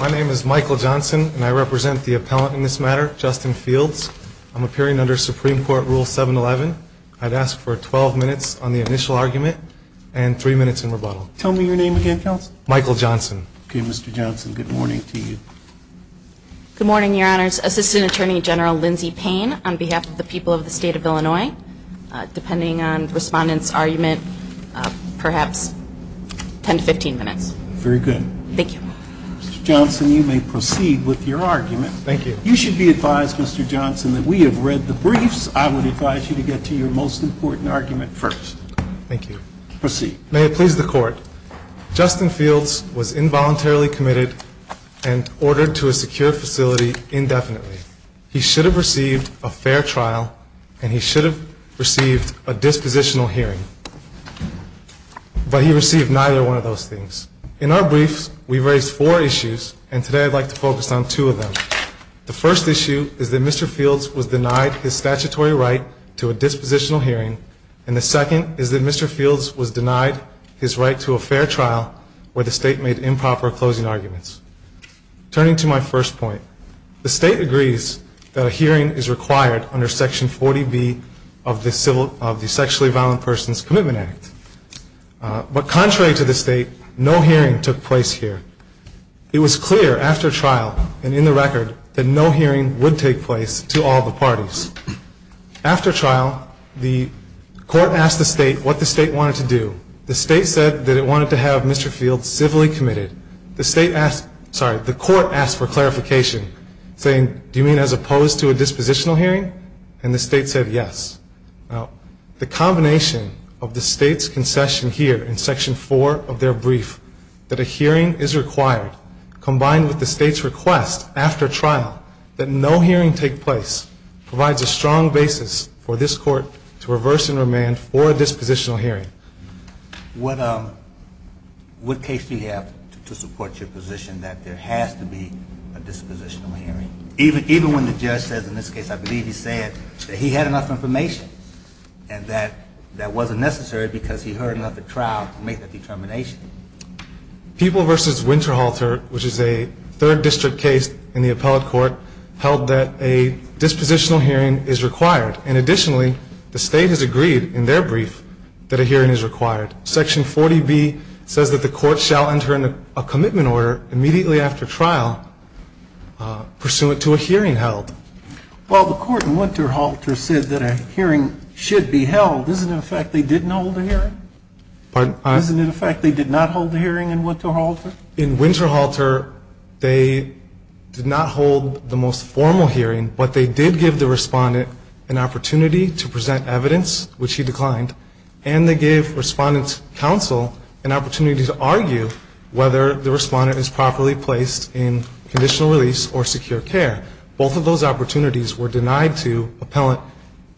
My name is Michael Johnson, and I represent the appellant in this matter, Justin Fields. I'm appearing under Supreme Court Rule 711. I'd ask for 12 minutes on the initial argument and 3 minutes in rebuttal. Tell me your name again, Counsel. Michael Johnson. Okay, Mr. Johnson, good morning to you. Good morning, Your Honors. Assistant Attorney General Lindsey depending on Respondent's argument, perhaps 10 to 15 minutes. Very good. Thank you. Mr. Johnson, you may proceed with your argument. Thank you. You should be advised, Mr. Johnson, that we have read the briefs. I would advise you to get to your most important argument first. Thank you. Proceed. May it please the Court, Justin Fields was involuntarily committed and ordered to a secure facility indefinitely. He should have received a fair trial, and he should have received a dispositional hearing. But he received neither one of those things. In our briefs, we've raised four issues, and today I'd like to focus on two of them. The first issue is that Mr. Fields was denied his statutory right to a dispositional hearing, and the second is that Mr. Fields was denied his right to a fair trial where the State made improper closing arguments. Turning to my first point, the State agrees that a hearing is required under Section 40B of the Sexually Violent Persons Commitment Act. But contrary to the State, no hearing took place here. It was clear after trial and in the record that no hearing would take place to all the parties. After trial, the Court asked the State what the State wanted to do. The State said that it wanted to have Mr. Fields civilly committed. The State asked, sorry, the Court asked for clarification, saying, do you mean as opposed to a dispositional hearing? And the State said, yes. Now, the combination of the State's concession here in Section 4 of their brief, that a hearing is required, combined with the State's request after trial that no hearing take place, provides a strong basis for this Court to reverse and remand for a dispositional hearing. What case do you have to support your position that there has to be a dispositional hearing? Even when the judge says, in this case, I believe he said, that he had enough information and that that wasn't necessary because he heard enough at trial to make that determination. People v. Winterhalter, which is a Third District case in the Appellate Court, held that a dispositional hearing is required. And additionally, the State has agreed in their brief that a hearing is required. Section 40B says that the Court shall enter a commitment order immediately after trial pursuant to a hearing held. Well, the Court in Winterhalter said that a hearing should be held. Isn't it a fact they didn't hold a hearing? Pardon? Isn't it a fact they did not hold a hearing in Winterhalter? In Winterhalter, they did not hold the most formal hearing, but they did give the Respondent an opportunity to present evidence, which he declined, and they gave Respondent's an opportunity to argue whether the Respondent is properly placed in conditional release or secure care. Both of those opportunities were denied to Appellant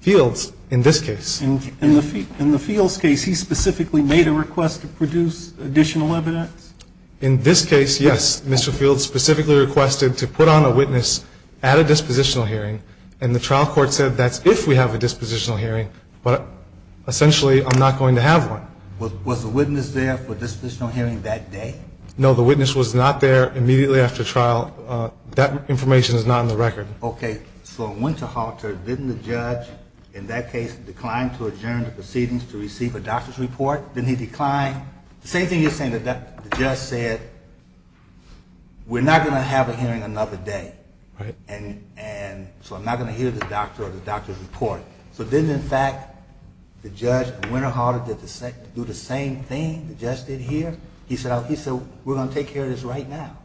Fields in this case. In the Fields case, he specifically made a request to produce additional evidence? In this case, yes. Mr. Fields specifically requested to put on a witness at a dispositional hearing, and the trial court said that's if we have a dispositional hearing, but essentially I'm not going to have one. Was the witness there for a dispositional hearing that day? No, the witness was not there immediately after trial. That information is not on the record. Okay, so in Winterhalter, didn't the judge in that case decline to adjourn the proceedings to receive a doctor's report? Didn't he decline? The same thing you're saying that the judge said, we're not going to have a hearing another day, and so I'm not going to hear the doctor or the doctor's report. So didn't, in fact, the judge at Winterhalter do the same thing the judge did here? He said, we're going to take care of this right now.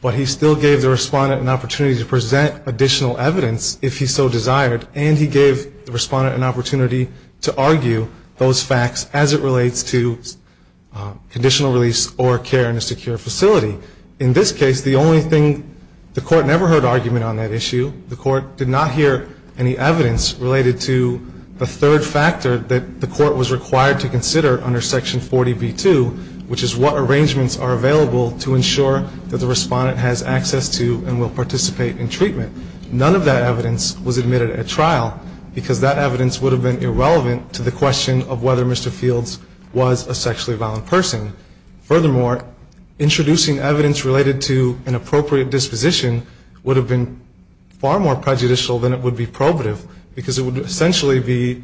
But he still gave the Respondent an opportunity to present additional evidence if he so desired, and he gave the Respondent an opportunity to argue those facts as it relates to conditional release or care in a secure facility. In this case, the only thing, the court never heard argument on that issue. The court did not hear any evidence related to the third factor that the court was required to consider under Section 40b-2, which is what arrangements are available to ensure that the Respondent has access to and will participate in treatment. None of that evidence was admitted at trial because that evidence would have been irrelevant to the question of whether Mr. Fields was a sexually violent person. Furthermore, introducing evidence related to an appropriate disposition would have been far more prejudicial than it would be probative because it would essentially be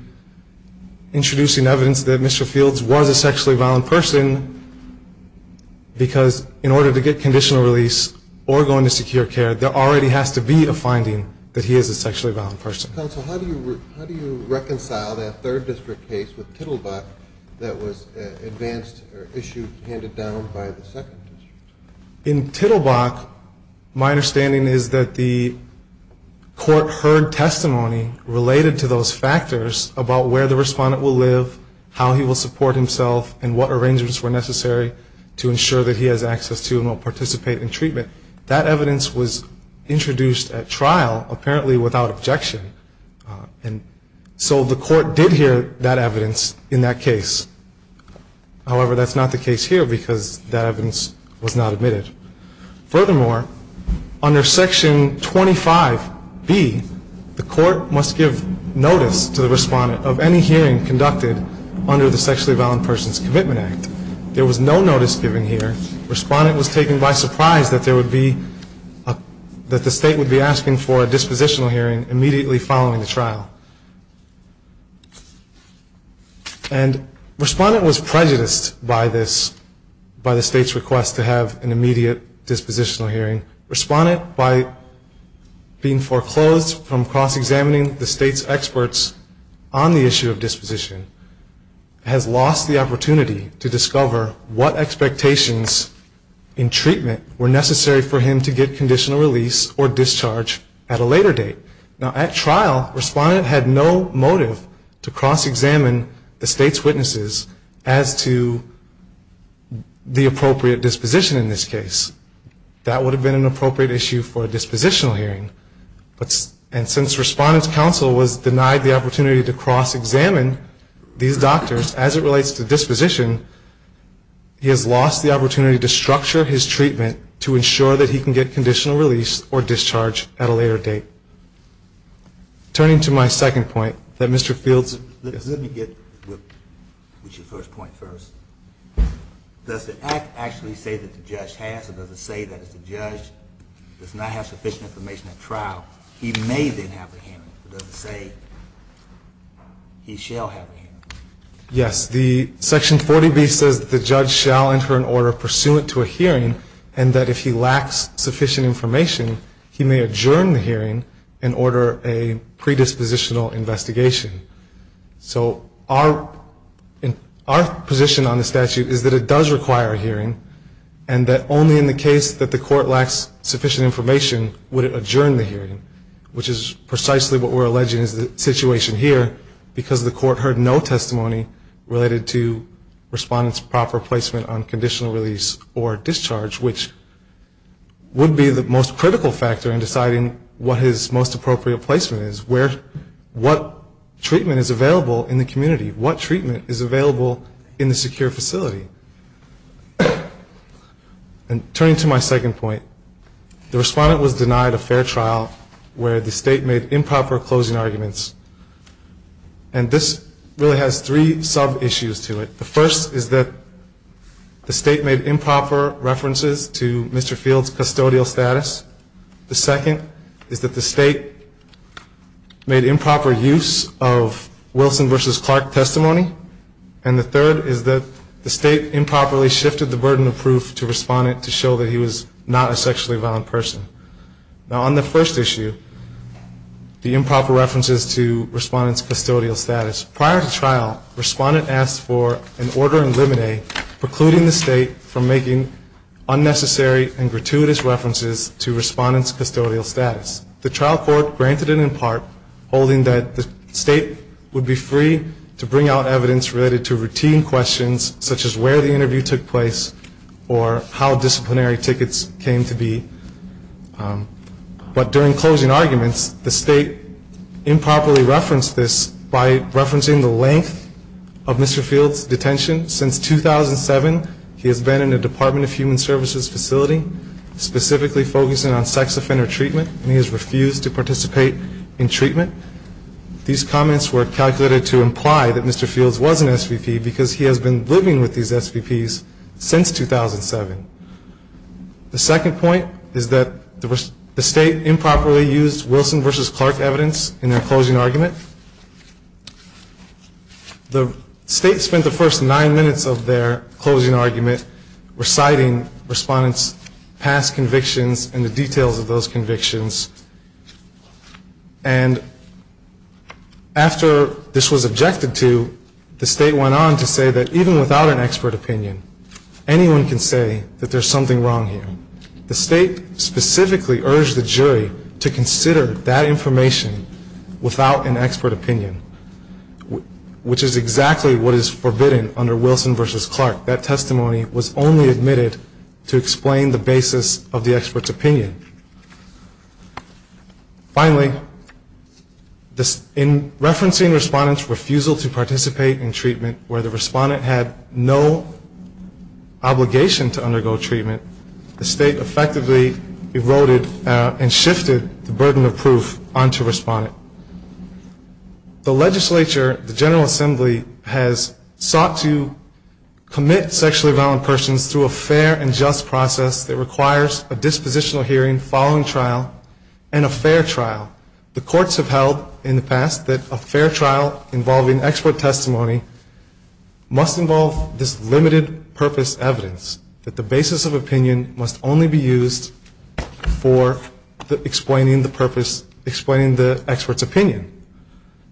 introducing evidence that Mr. Fields was a sexually violent person because in order to get conditional release or go into secure care, there already has to be a finding that he is a sexually violent person. Mr. Counsel, how do you reconcile that third district case with Tittlebach that was advanced or issued, handed down by the second district? In Tittlebach, my understanding is that the court heard testimony related to those factors about where the Respondent will live, how he will support himself, and what arrangements were necessary to ensure that he has access to and will participate in treatment. That evidence was introduced at trial, apparently without objection, and so the court did hear that evidence in that case. However, that's not the case here because that evidence was not admitted. Furthermore, under Section 25B, the court must give notice to the Respondent of any hearing conducted under the Sexually Violent Persons Commitment Act. There was no notice given here. Respondent was taken by surprise that the State would be asking for a dispositional hearing immediately following the trial. And Respondent was prejudiced by the State's request to have an immediate dispositional hearing. Respondent, by being foreclosed from cross-examining the State's experts on the treatment, were necessary for him to get conditional release or discharge at a later date. Now, at trial, Respondent had no motive to cross-examine the State's witnesses as to the appropriate disposition in this case. That would have been an appropriate issue for a dispositional hearing. And since Respondent's counsel was denied the opportunity to cross-examine these doctors as it relates to disposition, he has lost the opportunity to structure his treatment to ensure that he can get conditional release or discharge at a later date. Turning to my second point, that Mr. Fields Let me get to your first point first. Does the Act actually say that the judge has or does it say that if the judge does not have sufficient information at trial, he may then have a hearing? It doesn't say he shall have a hearing. Yes. Section 40B says that the judge shall enter an order pursuant to a hearing and that if he lacks sufficient information, he may adjourn the hearing and order a predispositional investigation. So our position on the statute is that it does require a hearing and that only in the case that the court lacks sufficient information would it adjourn the hearing, which is precisely what we're alleging is the situation here because the court heard no testimony related to Respondent's proper placement on conditional release or discharge, which would be the most critical factor in deciding what his most appropriate placement is, where, what treatment is available in the community, what treatment is available in the secure facility. And turning to my second point, the Respondent was denied a fair trial where the State made improper closing arguments. And this really has three sub-issues to it. The first is that the State made improper references to Mr. Fields' custodial status. The second is that the State made improper use of Wilson v. Clark testimony. And the third is that the State improperly shifted the burden of proof to Respondent to show that he was not a sexually violent person. Now on the first issue, the improper references to Respondent's custodial status. Prior to trial, Respondent asked for an order in limine precluding the State from making unnecessary and gratuitous references to Respondent's custodial status. The trial court granted it in part, holding that the State would be free to bring out evidence related to routine questions such as where the interview took place or how disciplinary tickets came to be. But during closing arguments, the State improperly referenced this by referencing the length of Mr. Fields' detention. Since 2007, he has been in the Department of Human Services facility, specifically focusing on sex offender treatment, and he has refused to participate in treatment. These comments were calculated to imply that Mr. Fields wasn't an SVP because he has been living with these SVPs since 2007. The second point is that the State improperly used Wilson v. Clark evidence in their closing argument. The State spent the first nine minutes of their closing argument reciting Respondent's past convictions and the details of those convictions. And after this was objected to, the State went on to say that even without an expert opinion, anyone can say that there's something wrong here. The State specifically urged the jury to consider that information without an expert opinion, which is exactly what is forbidden under Wilson v. Clark. That testimony was only admitted to explain the basis of the expert's opinion. Finally, in referencing Respondent's refusal to participate in treatment where the Respondent had no obligation to undergo treatment, the State effectively eroded and shifted the burden of proof onto Respondent. The legislature, the General Assembly, has sought to commit sexually violent persons through a fair and just process that requires a dispositional hearing following trial and a fair trial. The courts have held in the past that a fair trial involving expert testimony must involve this limited purpose evidence, that the basis of opinion must only be used for explaining the purpose, explaining the expert's opinion.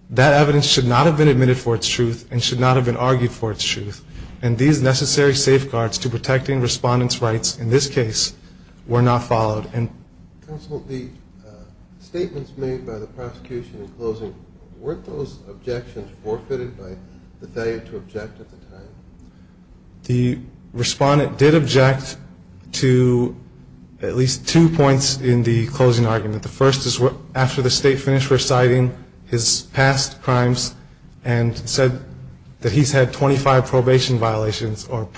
That evidence should not have been admitted for its truth and should not have been argued for its truth. And these necessary safeguards to protecting Respondent's rights in this case were not followed. Counsel, the statements made by the prosecution in closing, weren't those objections forfeited by the failure to object at the time? The Respondent did object to at least two points in the closing argument. The first is after the State finished reciting his past crimes and said that he's had 25 probation violations or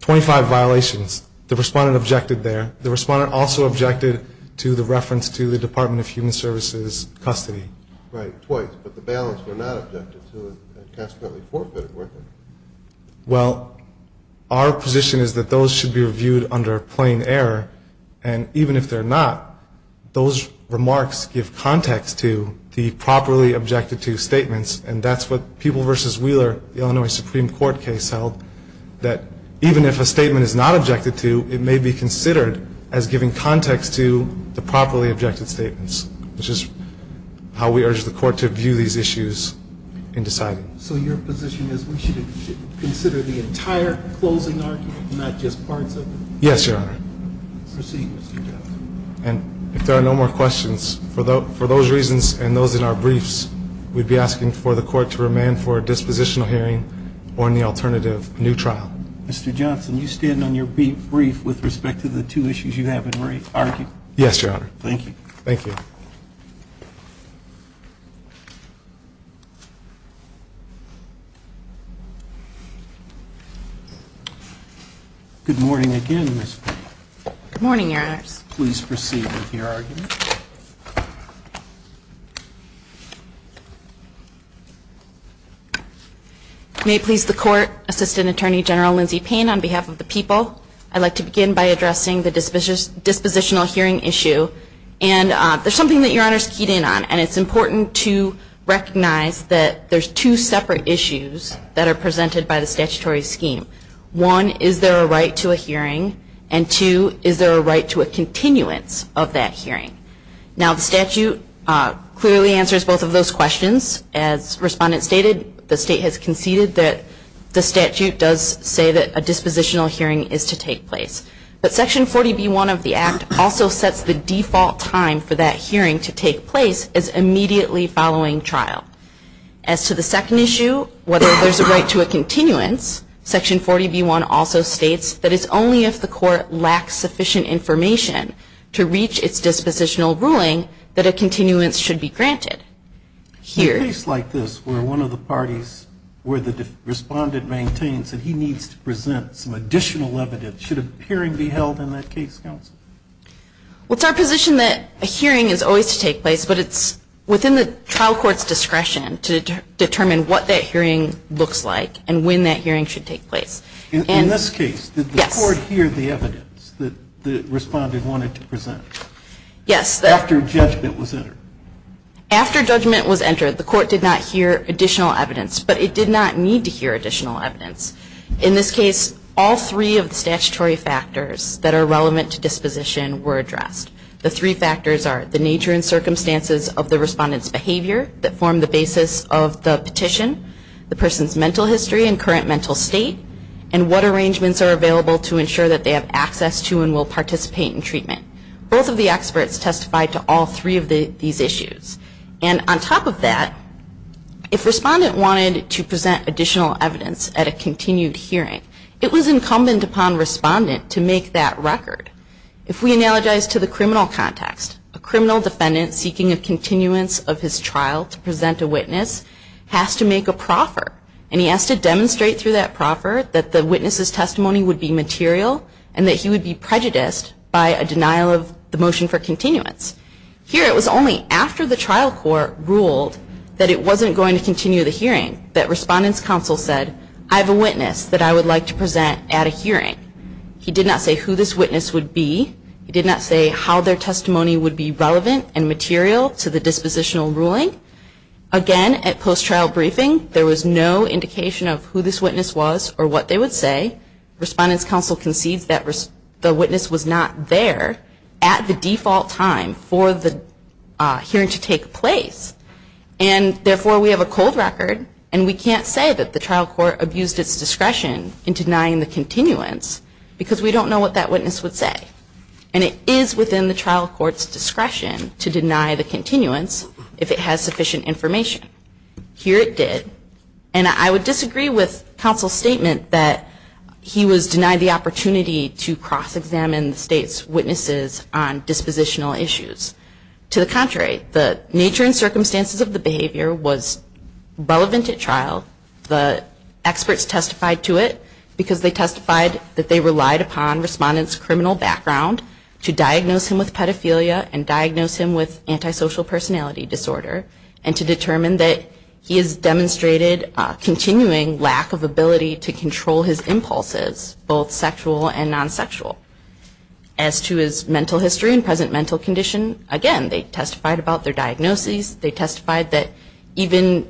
25 violations. The Respondent objected there. The Respondent also objected to the reference to the Department of Human Services' custody. Right, twice. But the bailiffs were not objected to and consequently forfeited, weren't they? Well, our position is that those should be reviewed under plain error. And even if they're not, those remarks give context to the properly objected-to statements. And that's what People v. Wheeler, the Illinois Supreme Court case, held, that even if a statement is not objected to, it may be considered as giving context to the properly objected statements, which is how we urge the Court to view these issues in deciding. So your position is we should consider the entire closing argument, not just parts of it? Yes, Your Honor. Proceed, Mr. Johnson. And if there are no more questions, for those reasons and those in our briefs, we'd be asking for the Court to remand for a dispositional hearing or any alternative, a new trial. Mr. Johnson, you stand on your brief with respect to the two issues you have in writing, aren't you? Yes, Your Honor. Thank you. Thank you. Good morning again, Ms. Fink. Good morning, Your Honors. Please proceed with your argument. May it please the Court, Assistant Attorney General Lindsey Payne, on behalf of the People, I'd like to begin by addressing the dispositional hearing issue. And there's something that Your Honors keyed in on, and it's important to recognize that there's two separate issues that are presented by the statutory scheme. One, is there a right to a hearing? And two, is there a right to a continuance of that hearing? Now, the statute clearly answers both of those questions. As Respondent stated, the State has conceded that the statute does say that a dispositional hearing is to take place. But Section 40B1 of the Act also sets the default time for that hearing to take place as immediately following trial. As to the second issue, whether there's a right to a continuance, Section 40B1 also states that it's only if the Court lacks sufficient information to reach its dispositional ruling that a continuance should be granted. In a case like this, where one of the parties, where the Respondent maintains that he needs to present some additional evidence, should a hearing be held in that case, Counsel? Well, it's our position that a hearing is always to take place, but it's within the trial court's discretion to determine what that hearing looks like and when that hearing should take place. In this case, did the Court hear the evidence that the Respondent wanted to present? Yes. After judgment was entered? After judgment was entered, the Court did not hear additional evidence, but it did not need to hear additional evidence. In this case, all three of the statutory factors that are relevant to disposition were addressed. The three factors are the nature and circumstances of the Respondent's behavior that form the basis of the petition, the person's mental history and current mental state, and what arrangements are available to ensure that they have access to and will participate in treatment. Both of the experts testified to all three of these issues. And on top of that, if Respondent wanted to present additional evidence at a continued hearing, it was incumbent upon Respondent to make that record. If we analogize to the criminal context, a criminal defendant seeking a continuance of his trial to present a witness has to make a proffer, and he has to demonstrate through that proffer that the witness's testimony would be material and that he would be prejudiced by a denial of the motion for continuance. Here, it was only after the trial court ruled that it wasn't going to continue the hearing that Respondent's counsel said, I have a witness that I would like to present at a hearing. He did not say who this witness would be. He did not say how their testimony would be relevant and material to the dispositional ruling. Again, at post-trial briefing, there was no indication of who this witness was or what they would say. Respondent's counsel conceived that the witness was not there at the default time for the hearing to take place, and therefore, we have a cold record, and we can't say that the trial court abused its discretion in denying the continuance because we don't know what that witness would say. And it is within the trial court's discretion to deny the continuance if it has sufficient information. Here, it did, and I would disagree with counsel's statement that he was denied the continuance. To the contrary, the nature and circumstances of the behavior was relevant at trial. The experts testified to it because they testified that they relied upon Respondent's criminal background to diagnose him with pedophilia and diagnose him with antisocial personality disorder, and to determine that he has demonstrated a continuing lack of ability to control his impulses, both sexual and non-sexual. As to his mental history and present mental condition, again, they testified about their diagnoses. They testified that even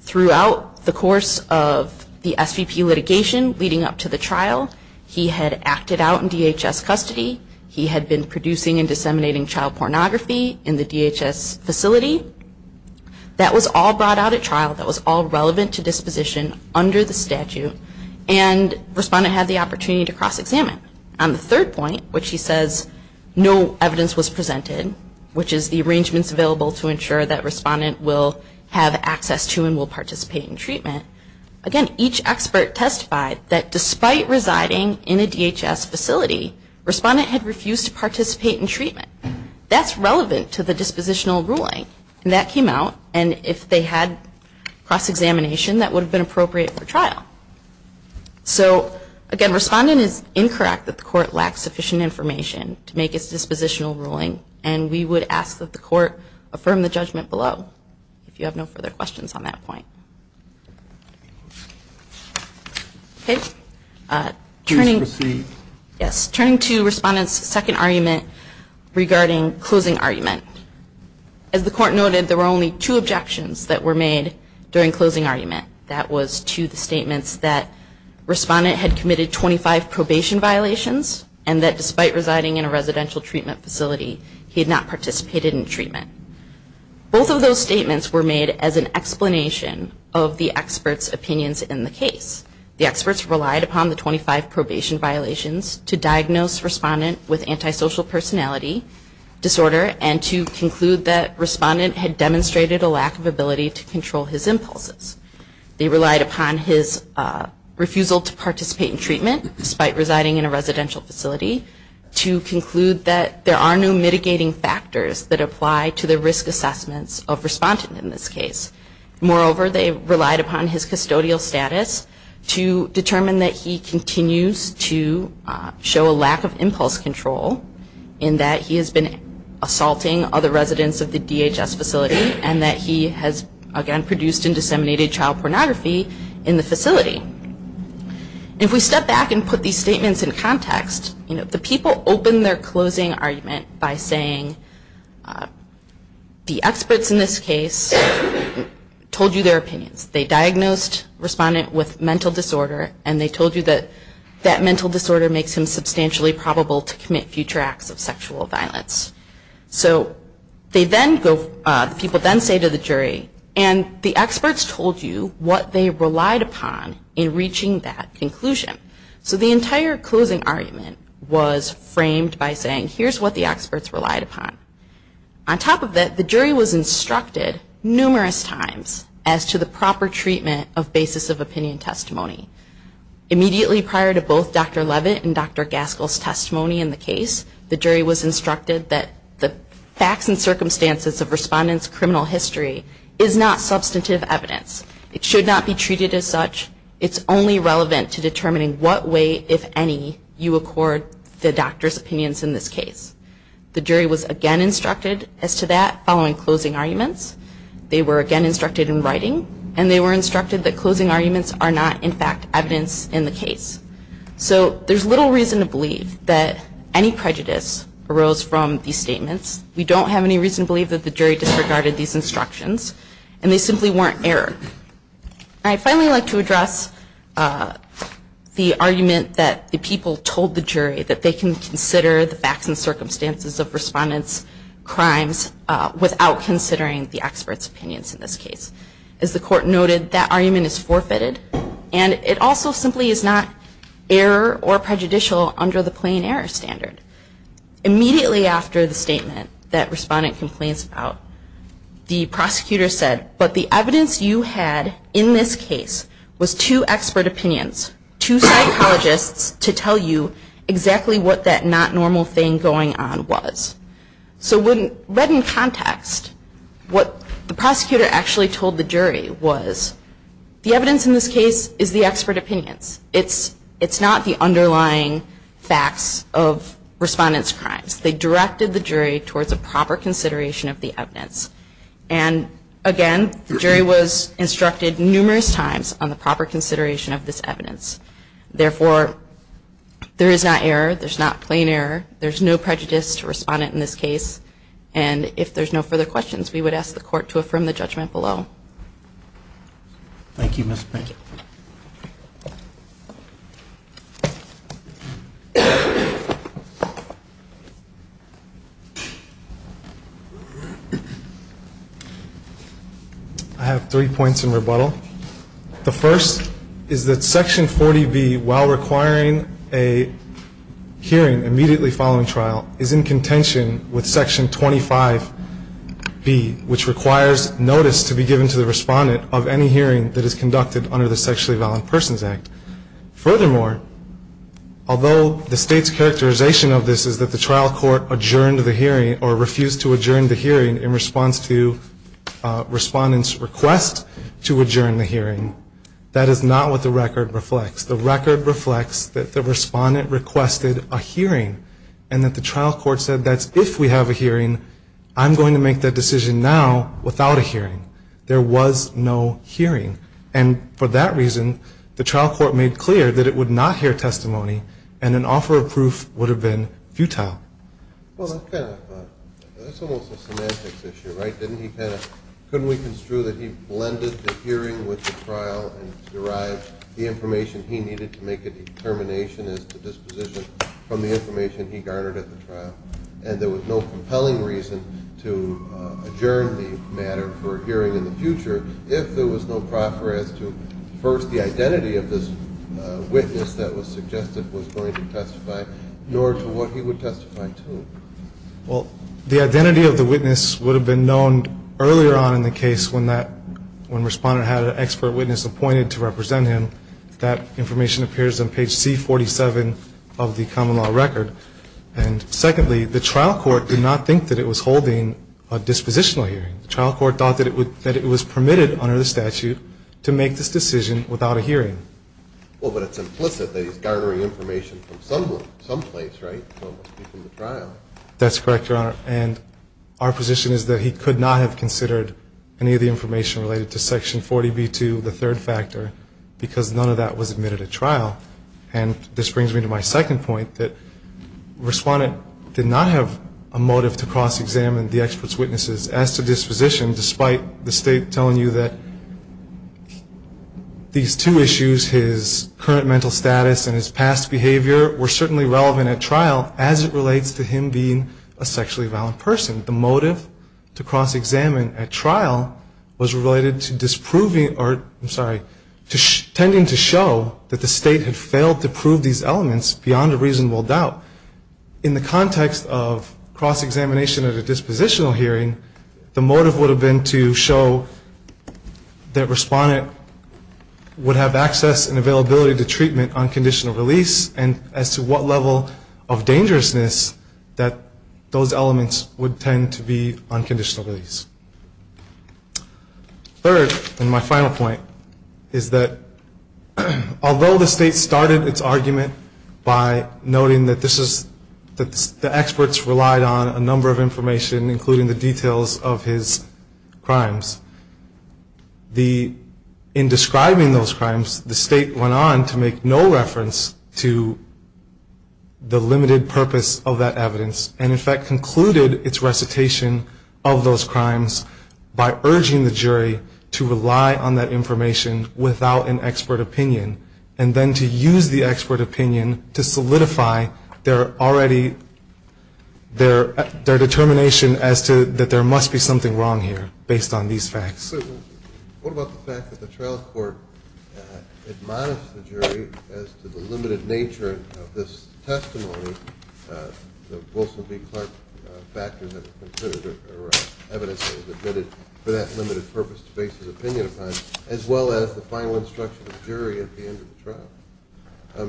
throughout the course of the SVP litigation leading up to the trial, he had acted out in DHS custody. He had been producing and disseminating child pornography in the DHS facility. That was all brought out at trial. That was all relevant to disposition under the statute, and Respondent had the opportunity to cross-examine. On the third point, which he says no evidence was presented, which is the arrangements available to ensure that Respondent will have access to and will participate in treatment, again, each expert testified that despite residing in a DHS facility, Respondent had refused to participate in treatment. That's relevant to the dispositional ruling, and that came out, and if they had cross-examination, that would have been appropriate for trial. So, again, Respondent is incorrect that the court lacks sufficient information to make its dispositional ruling, and we would ask that the court affirm the judgment below, if you have no further questions on that point. Okay. Turning to Respondent's second argument regarding closing argument. As the court noted, there were only two objections that were made during closing argument. That was to the statements that Respondent had committed 25 probation violations, and that despite residing in a residential treatment facility, he had not participated in treatment. Both of those statements were made as an explanation of the experts' opinions in the case. The experts relied upon the 25 probation violations to diagnose Respondent with antisocial personality disorder, and to conclude that Respondent had demonstrated a lack of ability to control his impulses. They relied upon his refusal to participate in treatment, despite residing in a residential facility, to conclude that there are no mitigating factors that apply to the risk assessments of Respondent in this case. Moreover, they relied upon his custodial status to determine that he continues to show a lack of impulse control, in that he has been assaulting other residents of the DHS facility, and that he has, again, produced and disseminated child pornography in the facility. If we step back and put these statements in context, the people opened their closing argument by saying, the experts in this case told you their opinions. They diagnosed Respondent with mental disorder, and they told you that that mental disorder makes him substantially probable to commit future acts of sexual violence. So the people then say to the jury, and the experts told you what they relied upon in reaching that conclusion. So the entire closing argument was framed by saying, here's what the experts relied upon. On top of that, the jury was instructed numerous times as to the proper treatment of basis of opinion testimony. Immediately prior to both Dr. Leavitt and Dr. Gaskell's testimony in the case, the jury was instructed that the facts and circumstances of Respondent's criminal history is not substantive evidence. It should not be treated as such. It's only relevant to determining what way, if any, you accord the doctor's opinions in this case. The jury was again instructed as to that following closing arguments. They were again instructed in writing, and they were instructed that closing arguments are not, in fact, evidence in the case. So there's little reason to believe that any prejudice arose from these statements. We don't have any reason to believe that the jury disregarded these instructions, and they simply weren't error. I'd finally like to address the argument that the people told the jury that they can consider the facts and circumstances of Respondent's crimes without considering the experts' opinions in this case. As the Court noted, that argument is forfeited, and it also simply is not error or prejudicial under the plain error standard. Immediately after the statement that Respondent complains about, the prosecutor said, but the evidence you had in this case was two expert opinions, two psychologists to tell you exactly what that not normal thing going on was. So when read in context, what the prosecutor actually told the jury was, the evidence in this case is the expert opinions. It's not the underlying facts of Respondent's crimes. They directed the jury towards a proper consideration of the evidence. And again, the jury was instructed numerous times on the proper consideration of this evidence. Therefore, there is not error. There's not plain error. There's no prejudice to Respondent in this case. And if there's no further questions, we would ask the Court to affirm the judgment below. Thank you, Mr. Baker. I have three points in rebuttal. The first is that Section 40B, while requiring a hearing immediately following trial, is in contention with Section 25B, which requires notice to be given to the Respondent of any hearing that is conducted under the Sexually Violent Persons Act. Furthermore, although the State's characterization of this is that the trial court adjourned the hearing or refused to adjourn the hearing in response to Respondent's request to adjourn the hearing, that is not what the record reflects. The record reflects that the Respondent requested a hearing and that the trial court said that's if we have a hearing, I'm going to make that decision now without a hearing. There was no hearing. And for that reason, the trial court made clear that it would not hear testimony and an offer of proof would have been futile. Well, that's almost a semantics issue, right? Couldn't we construe that he blended the hearing with the trial and derived the information he needed to make a determination as to disposition from the information he garnered at the trial? And there was no compelling reason to adjourn the matter for a hearing in the future if there was no proffer as to, first, the identity of this witness that was suggested was going to testify, nor to what he would testify to. Well, the identity of the witness would have been known earlier on in the case when Respondent had an expert witness appointed to represent him. That information appears on page C-47 of the common law record. And secondly, the trial court did not think that it was holding a dispositional hearing. The trial court thought that it was permitted under the statute to make this decision without a hearing. Well, but it's implicit that he's garnering information from someone, someplace, right? Someone speaking at the trial. That's correct, Your Honor. And our position is that he could not have considered any of the information related to Section 40b-2, the third factor, because none of that was admitted at trial. And this brings me to my second point, that Respondent did not have a motive to cross-examine the expert's witnesses as to disposition, despite the state telling you that these two issues, his current mental status and his past behavior, were certainly relevant at trial as it relates to him being a sexually violent person. The motive to cross-examine at trial was related to disproving or, I'm sorry, tending to show that the state had failed to prove these elements beyond a reasonable doubt. In the context of cross-examination at a dispositional hearing, the motive would have been to show that Respondent would have access and availability to treatment on conditional release and as to what level of dangerousness that those elements would tend to be on conditional release. Third, and my final point, is that although the state started its argument by noting that this is, that the experts relied on a number of information including the details of his crimes, the, in describing those crimes, the state went on to make no reference to the limited purpose of that evidence and, in fact, concluded its recitation of those crimes by urging the jury to rely on that information without an expert opinion and then to use the expert opinion to solidify their already, their determination as to that there must be something wrong here based on these facts. What about the fact that the trial court admonished the jury as to the evidence that was admitted for that limited purpose to base his opinion upon, as well as the final instruction of the jury at the end of the trial?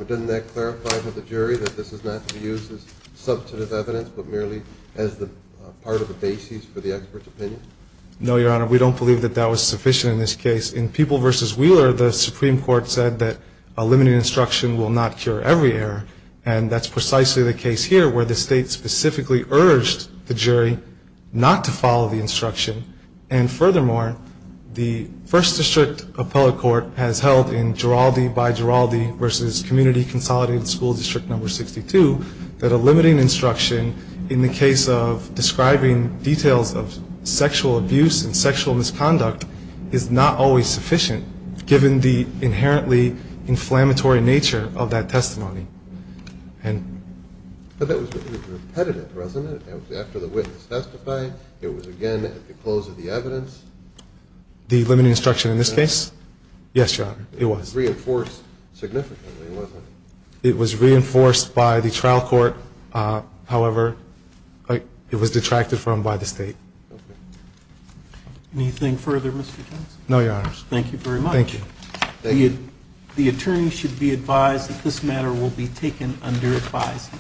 Doesn't that clarify to the jury that this is not to be used as substantive evidence but merely as the part of the basis for the expert's opinion? No, Your Honor. We don't believe that that was sufficient in this case. In People v. Wheeler, the Supreme Court said that a limited instruction will not cure every error and that's precisely the case here where the state specifically urged the jury not to follow the instruction. And furthermore, the First District Appellate Court has held in Giraldi v. Giraldi v. Community Consolidated School District No. 62 that a limiting instruction in the case of describing details of sexual abuse and sexual misconduct is not always sufficient given the inherently inflammatory nature of that testimony. But that was repetitive, wasn't it? After the witness testified, it was again at the close of the evidence? The limiting instruction in this case? Yes, Your Honor. It was. It was reinforced significantly, wasn't it? It was reinforced by the trial court. However, it was detracted from by the state. Okay. Anything further, Mr. Johnson? No, Your Honors. Thank you. Thank you. The attorney should be advised that this matter will be reviewed and will be taken under advisement.